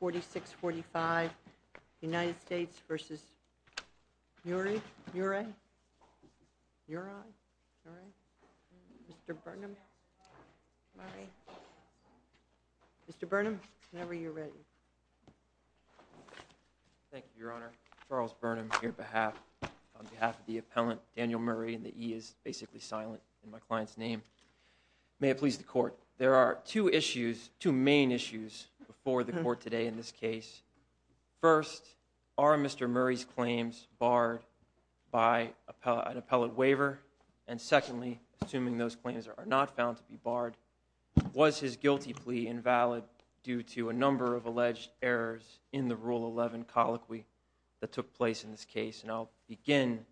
46-45 United States v. Murie? Murie? Mr. Burnham. Mr. Burnham, whenever you're ready. Thank you, Your Honor. Charles Burnham here on behalf of the appellant Daniel Murray, and the E is basically silent in my client's name. May it please the Court, there are two issues, before the Court today in this case. First, are Mr. Murray's claims barred by an appellate waiver? And secondly, assuming those claims are not found to be barred, was his guilty plea invalid due to a number of alleged errors in the Rule 11 colloquy that took place in this case? And I'll begin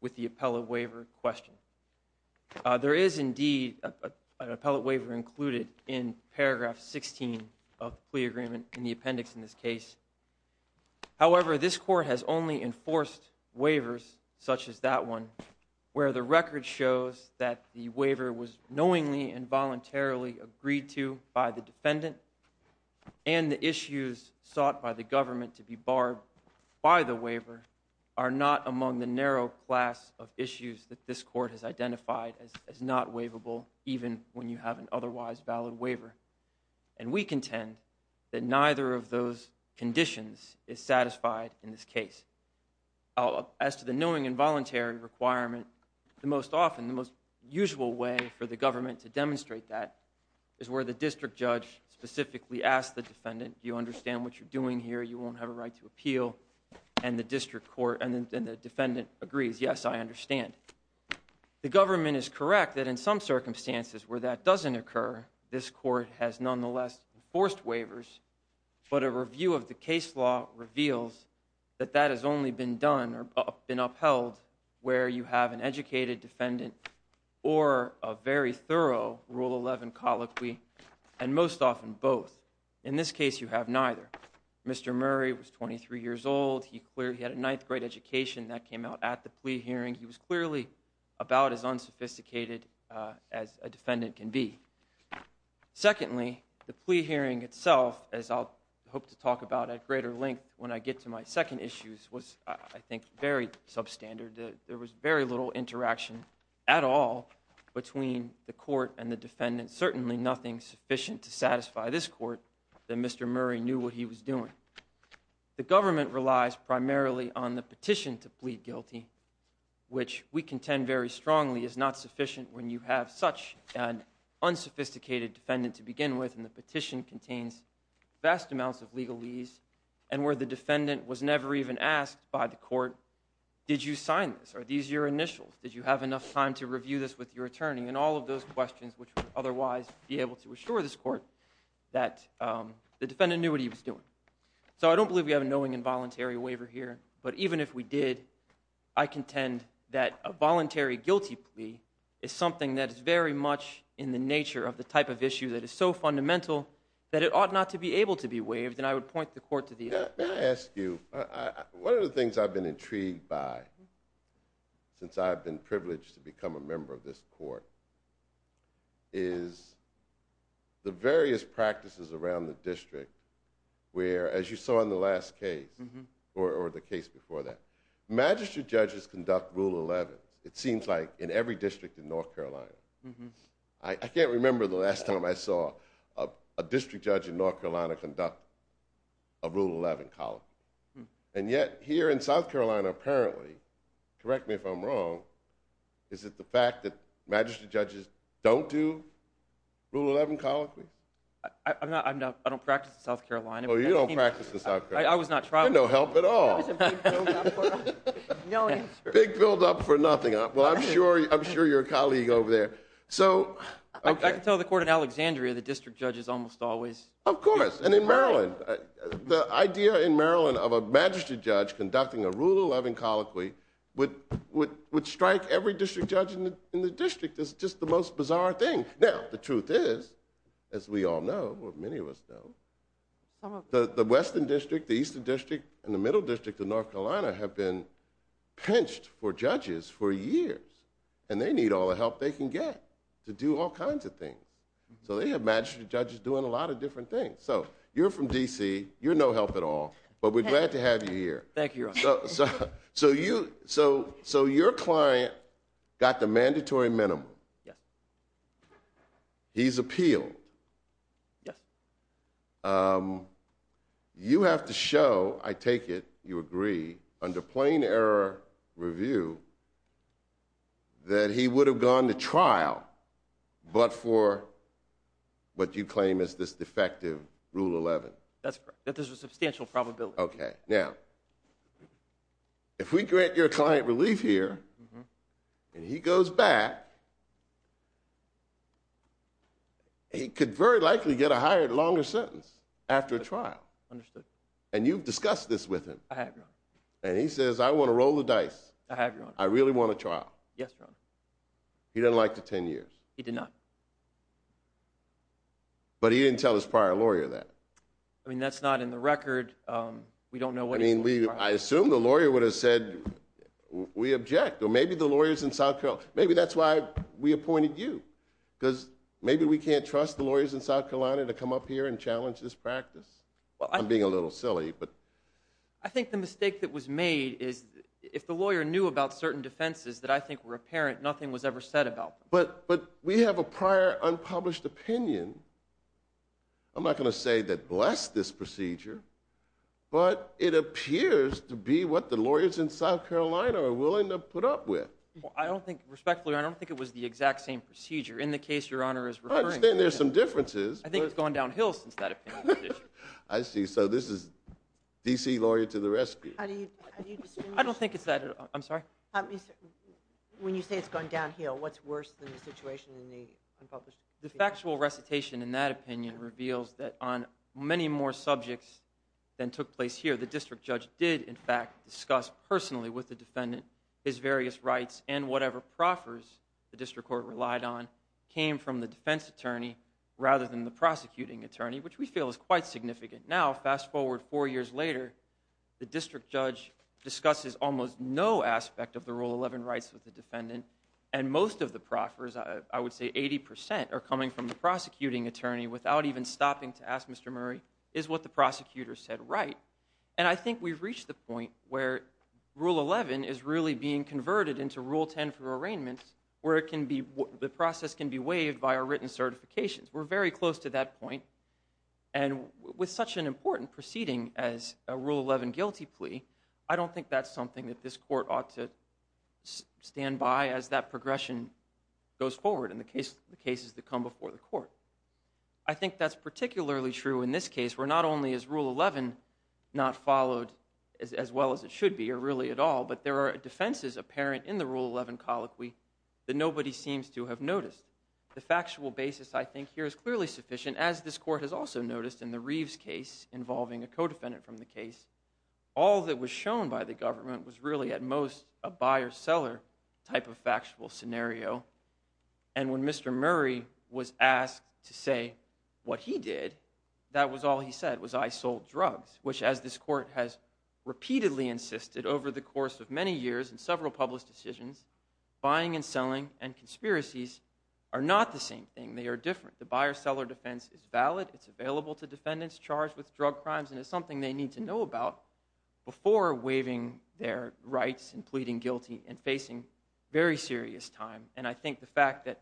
with the appellate waiver question. There is indeed an appellate waiver included in paragraph 16 of the plea agreement in the appendix in this case. However, this Court has only enforced waivers such as that one, where the record shows that the waiver was knowingly and voluntarily agreed to by the defendant, and the issues sought by the government to be barred by the waiver are not among the narrow class of issues that this Court has identified as not waivable, even when you have an otherwise valid waiver. And we contend that neither of those conditions is satisfied in this case. As to the knowing and voluntary requirement, the most often, the most usual way for the government to demonstrate that is where the district judge specifically asks the defendant, do you understand what you're doing here, you won't have a right to appeal, and the district court and the defendant agrees, yes, I understand. The government is where that doesn't occur. This Court has nonetheless enforced waivers, but a review of the case law reveals that that has only been done or been upheld where you have an educated defendant or a very thorough Rule 11 colloquy, and most often both. In this case, you have neither. Mr. Murray was 23 years old. He had a ninth grade education that came out at the plea hearing. He was clearly about as unsophisticated as a defendant can be. Secondly, the plea hearing itself, as I'll hope to talk about at greater length when I get to my second issues, was, I think, very substandard. There was very little interaction at all between the court and the defendant, certainly nothing sufficient to satisfy this Court that Mr. Murray knew what he was doing. The government relies primarily on the petition to plead guilty, which we contend very strongly is not sufficient when you have such an unsophisticated defendant to begin with, and the petition contains vast amounts of legalese, and where the defendant was never even asked by the court, did you sign this? Are these your initials? Did you have enough time to review this with your attorney? And all of those questions which would otherwise be able to assure this Court that the defendant knew what he was doing. So I don't believe we have a knowing involuntary waiver here, but even if we did, I contend that a voluntary guilty plea is something that is very much in the nature of the type of issue that is so fundamental that it ought not to be able to be waived, and I would point the Court to the other. May I ask you, one of the things I've been intrigued by since I've been privileged to be a member of this Court is the various practices around the district where, as you saw in the last case, or the case before that, magistrate judges conduct Rule 11. It seems like in every district in North Carolina. I can't remember the last time I saw a district judge in North Carolina conduct a Rule 11 column, and yet here in South Carolina, apparently, correct me if I'm wrong, is it the fact that magistrate judges don't do Rule 11 colloquies? I'm not, I don't practice in South Carolina. Oh, you don't practice in South Carolina. I was not trying. No help at all. Big build-up for nothing. Well, I'm sure you're a colleague over there. So I can tell the Court in Alexandria the district judges almost always. Of course, and in Maryland. The idea in Maryland of a magistrate judge conducting a Rule 11 colloquy would strike every district judge in the district as just the most bizarre thing. Now, the truth is, as we all know, or many of us know, the Western District, the Eastern District, and the Middle District of North Carolina have been pinched for judges for years, and they need all the help they can get to do all kinds of things. So they have magistrate judges doing a lot of different things. So you're from D.C. You're no help at all, but we're glad to have you here. Thank you, Your Honor. So your client got the mandatory minimum. Yes. He's appealed. Yes. You have to show, I take it you agree, under plain error review, that he would have gone to trial, but for what you claim is this defective Rule 11. That's correct. That there's a substantial probability. Okay. Now, if we grant your client relief here and he goes back, he could very likely get a higher, longer sentence after a trial. Understood. And you've discussed this with him. I have, Your Honor. And he says, I want to roll the dice. I have, Your Honor. I really want a trial. Yes, Your Honor. He doesn't like the 10 years. He did not. But he didn't tell his prior lawyer that. I mean, that's not in the record. We don't know. I mean, I assume the lawyer would have said, we object. Or maybe the lawyers in South Carolina. Maybe that's why we appointed you. Because maybe we can't trust the lawyers in South Carolina to come up here and challenge this practice. Well, I'm being a little silly, but I think the mistake that was made is if the lawyer knew about certain defenses that I think were apparent, nothing was ever said about them. But we have a prior unpublished opinion. I'm not going to say that blessed this procedure, but it appears to be what the lawyers in South Carolina are willing to put up with. Well, I don't think respectfully, I don't think it was the exact same procedure in the case Your Honor is referring to. I understand there's some differences. I think it's gone downhill since that opinion was issued. I see. So this is DC lawyer to the rescue. I don't think it's that. I'm sorry. When you say it's gone downhill, what's worse than the situation in the unpublished opinion? The factual recitation in that opinion reveals that on many more subjects than took place here, the district judge did in fact discuss personally with the defendant his various rights and whatever proffers the district court relied on came from the defense attorney rather than the prosecuting attorney, which we feel is quite significant. Now, fast forward four years later, the district judge discusses almost no aspect of the Rule 11 rights with the defendant. And most of the proffers, I would say 80% are coming from the prosecuting attorney without even stopping to ask Mr. Murray is what the prosecutor said right. And I think we've reached the point where Rule 11 is really being converted into Rule 10 for arraignments where it can be, the process can be waived by our written certifications. We're very close to that point. And with such an important proceeding as a Rule 11 guilty plea, I don't think that's something that this court ought to stand by as that progression goes forward in the cases that come before the court. I think that's particularly true in this case where not only is Rule 11 not followed as well as it should be or really at all, but there are defenses apparent in the Rule 11 colloquy that nobody seems to have noticed. The factual basis I think here is clearly sufficient as this co-defendant from the case. All that was shown by the government was really at most a buyer-seller type of factual scenario. And when Mr. Murray was asked to say what he did, that was all he said was I sold drugs, which as this court has repeatedly insisted over the course of many years and several published decisions, buying and selling and conspiracies are not the same thing. They are different. The buyer-seller defense is valid. It's available to defendants charged with drug crimes and it's something they need to know about before waiving their rights and pleading guilty and facing very serious time. And I think the fact that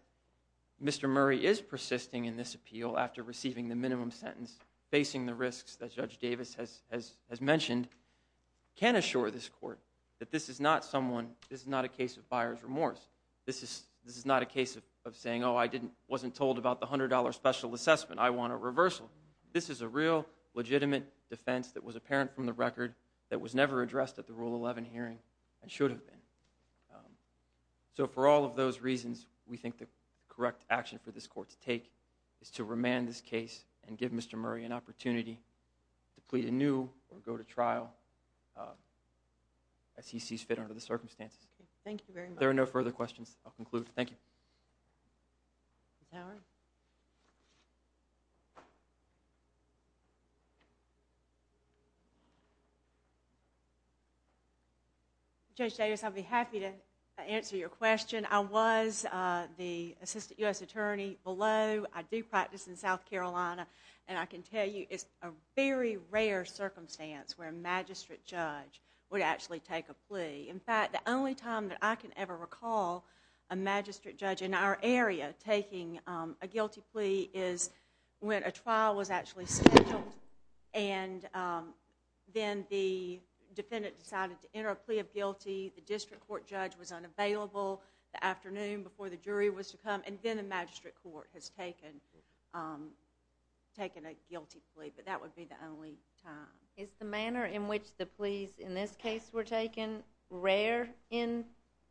Mr. Murray is persisting in this appeal after receiving the minimum sentence, facing the risks that Judge Davis has mentioned, can assure this court that this is not someone, this is not a case of buyer's remorse. This is not a case of saying, oh, I wasn't told about the $100 special assessment. I want a reversal. This is a real legitimate defense that was apparent from the record that was never addressed at the Rule 11 hearing and should have been. So for all of those reasons, we think the correct action for this court to take is to remand this case and give Mr. Murray an opportunity to plead anew or go to trial as he sees fit under the circumstances. Thank you very much. There are no further questions. I'll conclude. Thank you. Judge Davis, I'll be happy to answer your question. I was the Assistant U.S. Attorney below. I do practice in South Carolina and I can tell you it's a very rare circumstance where a magistrate judge would actually take a plea. In fact, the only time that I can ever recall a magistrate judge in our area taking a guilty plea is when a trial was actually scheduled and then the defendant decided to enter a plea of guilty, the district court judge was unavailable the afternoon before the jury was to come, and then a magistrate court has taken a guilty plea. But that would be the only time. Is the manner in which the pleas in this case were taken rare in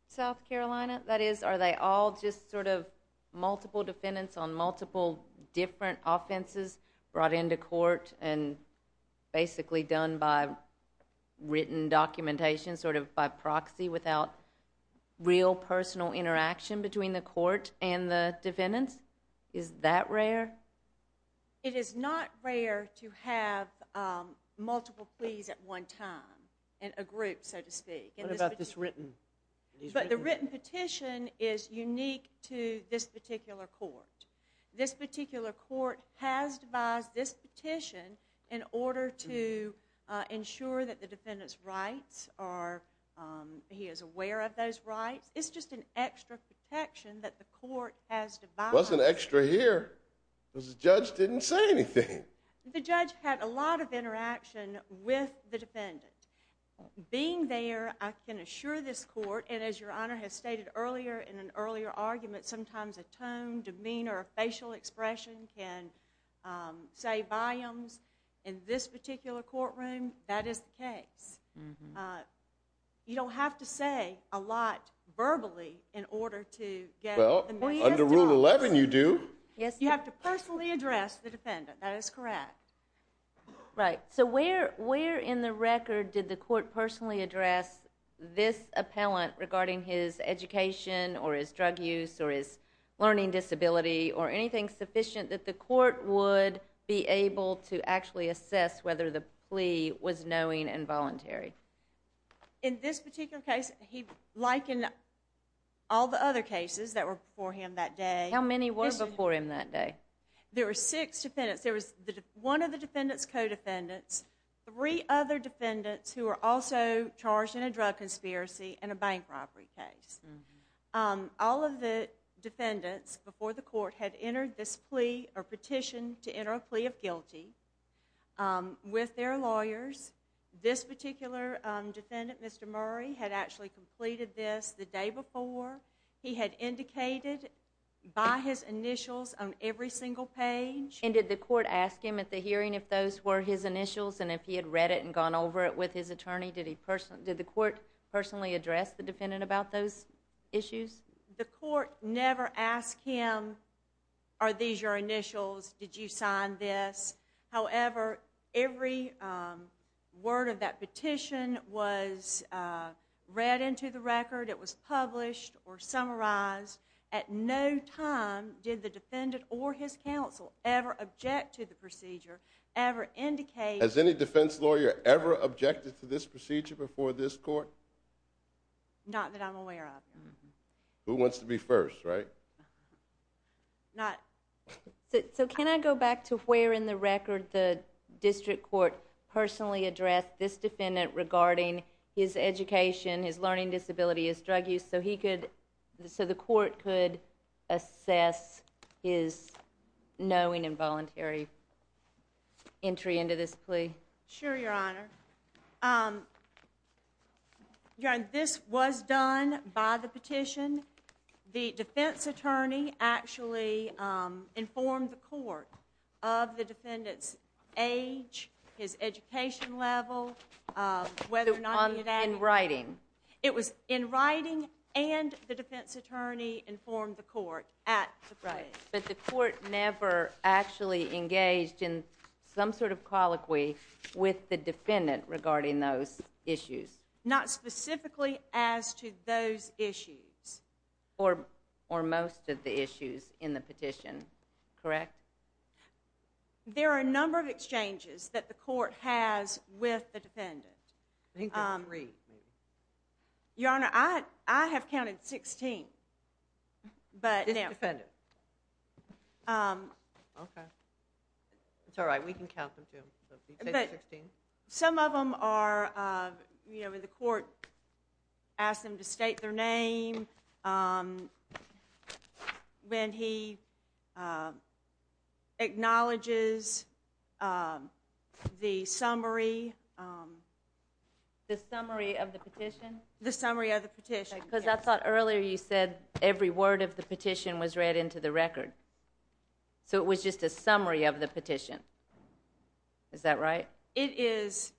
South Carolina? That is, are they all just sort of multiple defendants on multiple different offenses brought into court and basically done by written documentation, sort of by proxy without real personal interaction between the court and the defendants? Is that rare? It is not rare to have multiple pleas at one time in a group, so to speak. What about this written? But the written petition is unique to this particular court. This particular court has devised this petition in order to ensure that the defendant's rights are, he is aware of those rights. It's just an extra protection that the court has devised. It wasn't extra here, because the judge didn't say anything. The judge had a lot of interaction with the defendant. Being there, I can assure this court, and as your honor has stated earlier in an earlier argument, sometimes a tone, demeanor, facial expression can say volumes. In this particular courtroom, that is the case. You don't have to say a lot verbally in order to get... Under Rule 11, you do. You have to personally address the defendant. That is correct. Right. So where in the record did the court personally address this appellant regarding his education or his drug use or his learning disability or anything sufficient that the court would be able to actually assess whether the plea was knowing and voluntary? In this particular case, like in all the other cases that were before him that day... How many were before him that day? There were six defendants. There was one of the defendant's co-defendants, three other defendants who were also charged in a drug conspiracy and a bank robbery case. All of the defendants before the court had entered this plea or petition to enter a plea of guilty with their lawyers. This particular defendant, Mr. Murray, had actually completed this the day before. He had indicated by his initials on every single page. And did the court ask him at the hearing if those were his initials and if he had read it and gone over it with his attorney? Did the court personally address the defendant about those issues? The court never asked him, are these your initials? Did you sign this? However, every word of that petition was read into the record. It was published or summarized. At no time did the defendant or his counsel ever object to the procedure, ever indicate... Has any defense lawyer ever objected to this procedure before this court? Not that I'm aware of. Who wants to be first, right? Can I go back to where in the record the district court personally addressed this defendant regarding his education, his learning disability, his drug use, so the court could assess his knowing and voluntary entry into this plea? Sure, Your Honor. This was done by the petition. The defense attorney actually informed the court of the defendant's age, his education level, whether or not he had... In writing? It was in writing and the defense attorney informed the court at the plea. But the court never actually engaged in some sort of colloquy with the defendant regarding those issues? Not specifically as to those issues. Or most of the issues in the petition, correct? There are a number of exchanges that the court has with the defendant. Your Honor, I have counted 16, but... This defendant? Um... Okay. It's all right, we can count them too. Some of them are, you know, the court asked him to state their name, when he acknowledges the summary... The summary of the petition? The summary of the petition. Because I thought earlier you said every word of the petition was read into the record. So it was just a summary of the petition. Is that right? It is.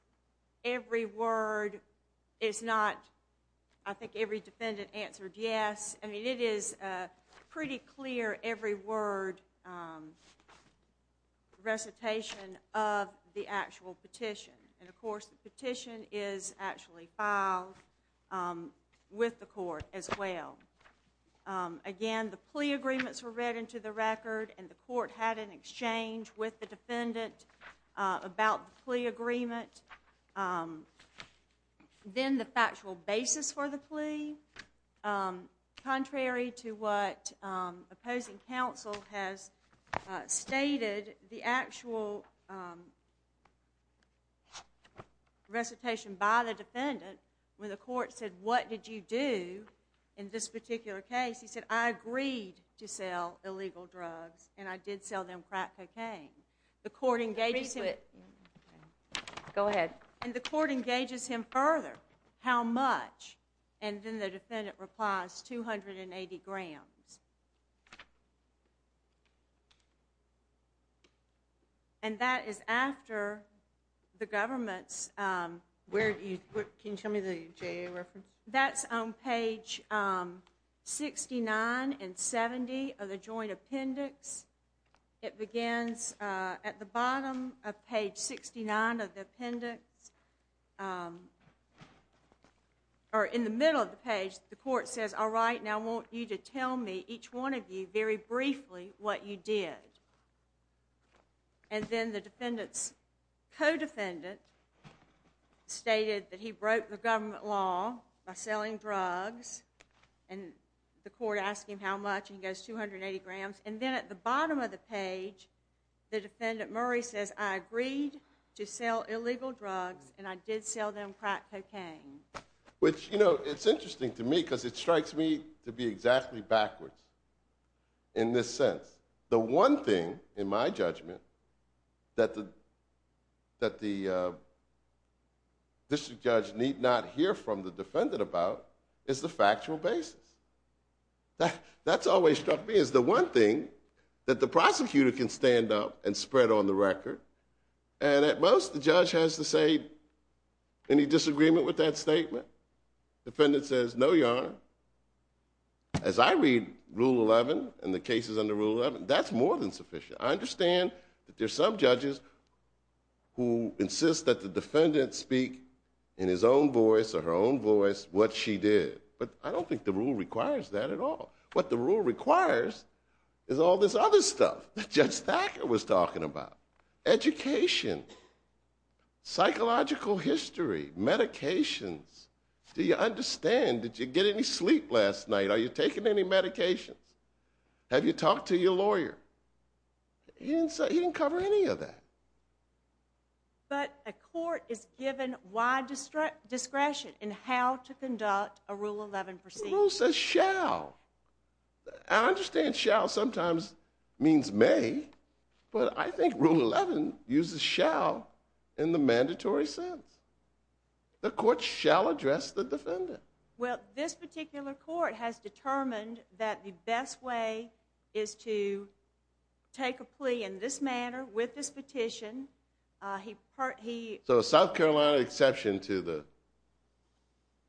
Every word is not... I think every defendant answered yes. I mean, it is a pretty clear every word recitation of the actual petition. And of course the petition is actually filed with the court as well. Again, the plea agreements were read into the record, and the court had an exchange with the defendant about the plea agreement. Then the factual basis for the plea, contrary to what opposing counsel has stated, the actual... recitation by the defendant, when the court said, what did you do in this particular case? He said, I agreed to sell illegal drugs, and I did sell them crack cocaine. The court engages him... Go ahead. And the court engages him further. How much? And then the defendant replies, 280 grams. And that is after the government's... Where do you... Can you show me the JA reference? That's on page 69 and 70 of the joint appendix. It begins at the bottom of page 69 of the appendix. Or in the middle of the page, the court says, all right, now I want you to tell me each one of you very briefly what you did. And then the defendant's co-defendant stated that he broke the government law by selling drugs, and the court asked him how much, and he goes 280 grams. And then at the bottom of the page, the defendant Murray says, I agreed to sell illegal drugs, and I did sell them crack cocaine. Which, you know, it's interesting to me, because it strikes me to be exactly backwards in this sense. The one thing, in my judgment, that the district judge need not hear from the defendant about is the factual basis. That's always struck me as the one thing that the prosecutor can stand up and spread on the record. And at most, the judge has to say, any disagreement with that statement? Defendant says, no, Your Honor. As I read Rule 11 and the cases under Rule 11, that's more than sufficient. I understand that there's some judges who insist that the defendant speak in his own voice or her own voice what she did. But I don't think the rule requires that at all. What the rule requires is all this other stuff that Judge Thacker was talking about. Education, psychological history, medications. Do you understand? Did you get any sleep last night? Are you taking any medications? Have you talked to your lawyer? He didn't cover any of that. But a court is given wide discretion in how to conduct a Rule 11 proceeding. Rule says shall. I understand shall sometimes means may. But I think Rule 11 uses shall in the mandatory sense. The court shall address the defendant. Well, this particular court has determined that the best way is to take a plea in this manner with this petition. So a South Carolina exception to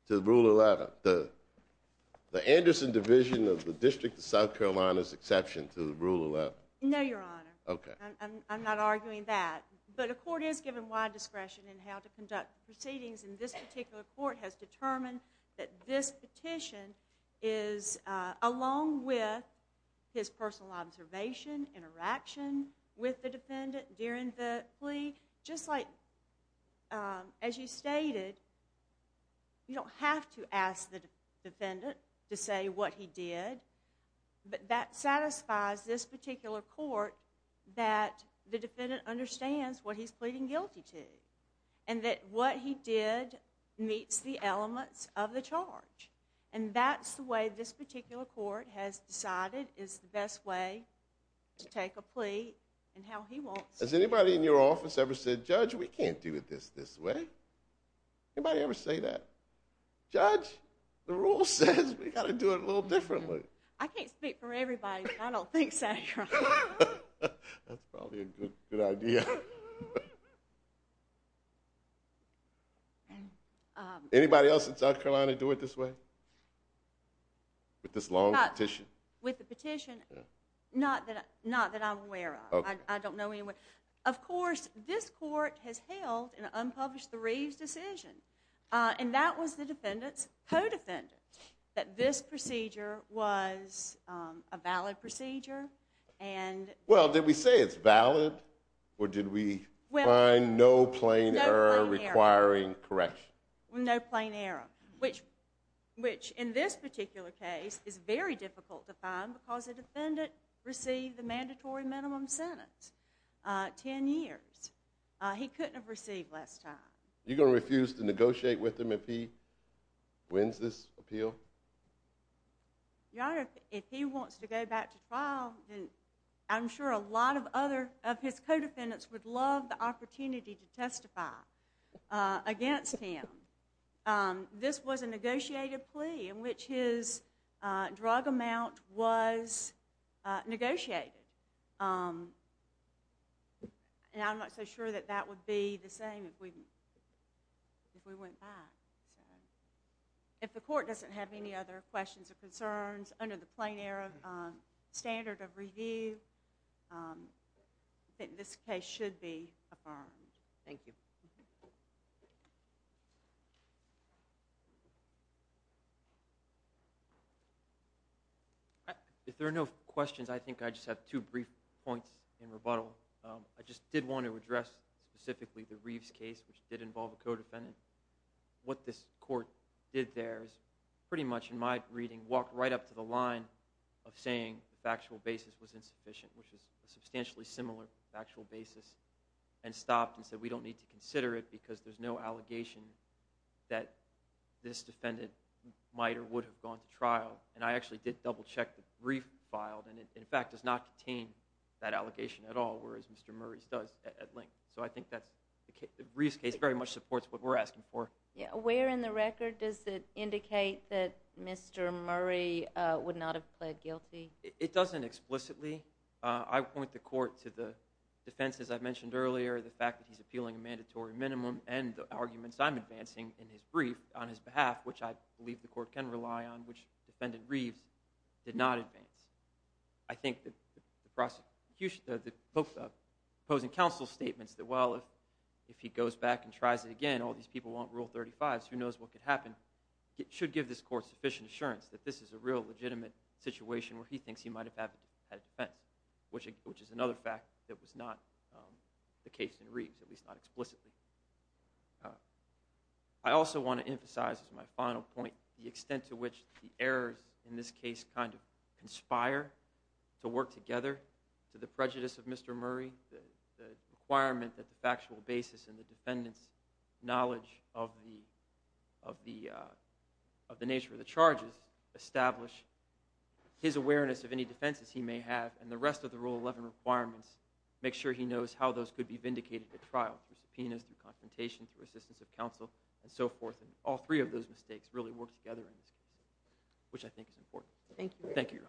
the rule 11, the Anderson Division of the District of South Carolina's exception to the Rule 11. No, Your Honor. OK. I'm not arguing that. But a court is given wide discretion in how to conduct proceedings. And this particular court has determined that this petition is, along with his personal observation, interaction with the defendant during the plea. Just like as you stated, you don't have to ask the defendant to say what he did. But that satisfies this particular court that the defendant understands what he's pleading guilty to and that what he did meets the elements of the charge. And that's the way this particular court has decided is the best way to take a plea and how he wants to. Has anybody in your office ever said, Judge, we can't do it this way? Anybody ever say that? Judge, the rule says we got to do it a little differently. I can't speak for everybody, but I don't think so, Your Honor. That's probably a good idea. Anybody else in South Carolina do it this way? With this long petition? With the petition? Not that I'm aware of. I don't know anyone. Of course, this court has held an unpublished the Reeves decision. And that was the defendant's co-defendant, that this procedure was a valid procedure. Well, did we say it's valid? Or did we find no plain error requiring correction? No plain error. Which, in this particular case, is very difficult to find because the defendant received the mandatory minimum sentence, 10 years. He couldn't have received less time. You're going to refuse to negotiate with him if he wins this appeal? Your Honor, if he wants to go back to trial, then I'm sure a lot of his co-defendants would love the opportunity to testify against him. This was a negotiated plea in which his drug amount was negotiated. And I'm not so sure that that would be the same if we went back. If the court doesn't have any other questions or concerns under the plain error standard of review, I think this case should be affirmed. Thank you. If there are no questions, I think I just have two brief points in rebuttal. I just did want to address specifically the Reeves case, which did involve a co-defendant. What this court did there is pretty much, in my reading, walked right up to the line of saying the factual basis was insufficient, which is a substantially similar factual basis, and stopped and said, we don't need to consider it because there's no allegation that this defendant might or would have gone to trial. And I actually did double check that Reeves filed, and it in fact does not contain that allegation at all, whereas Mr. Murray's does at length. So I think that Reeves' case very much supports what we're asking for. Where in the record does it indicate that Mr. Murray would not have pled guilty? It doesn't explicitly. I point the court to the defenses I mentioned earlier, the fact that he's appealing a in his brief on his behalf, which I believe the court can rely on, which Defendant Reeves did not advance. I think that the prosecution, the opposing counsel's statements that, well, if he goes back and tries it again, all these people want Rule 35, so who knows what could happen, should give this court sufficient assurance that this is a real legitimate situation where he thinks he might have had a defense, which is another fact that was not the case in Reeves, at least not explicitly. I also want to emphasize, as my final point, the extent to which the errors in this case kind of conspire to work together to the prejudice of Mr. Murray, the requirement that the factual basis and the defendant's knowledge of the nature of the charges establish his awareness of any defenses he may have, and the rest of the Rule 11 requirements, make sure he knows how those could be vindicated at trial, through subpoenas, through confrontation, through assistance of counsel, and so forth, and all three of those mistakes really work together in this case, which I think is important. Thank you. Thank you, Your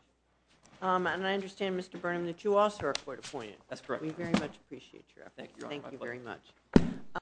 Honor. And I understand, Mr. Burnham, that you also are court-appointed. That's correct. We very much appreciate your efforts. Thank you, Your Honor. Thank you very much.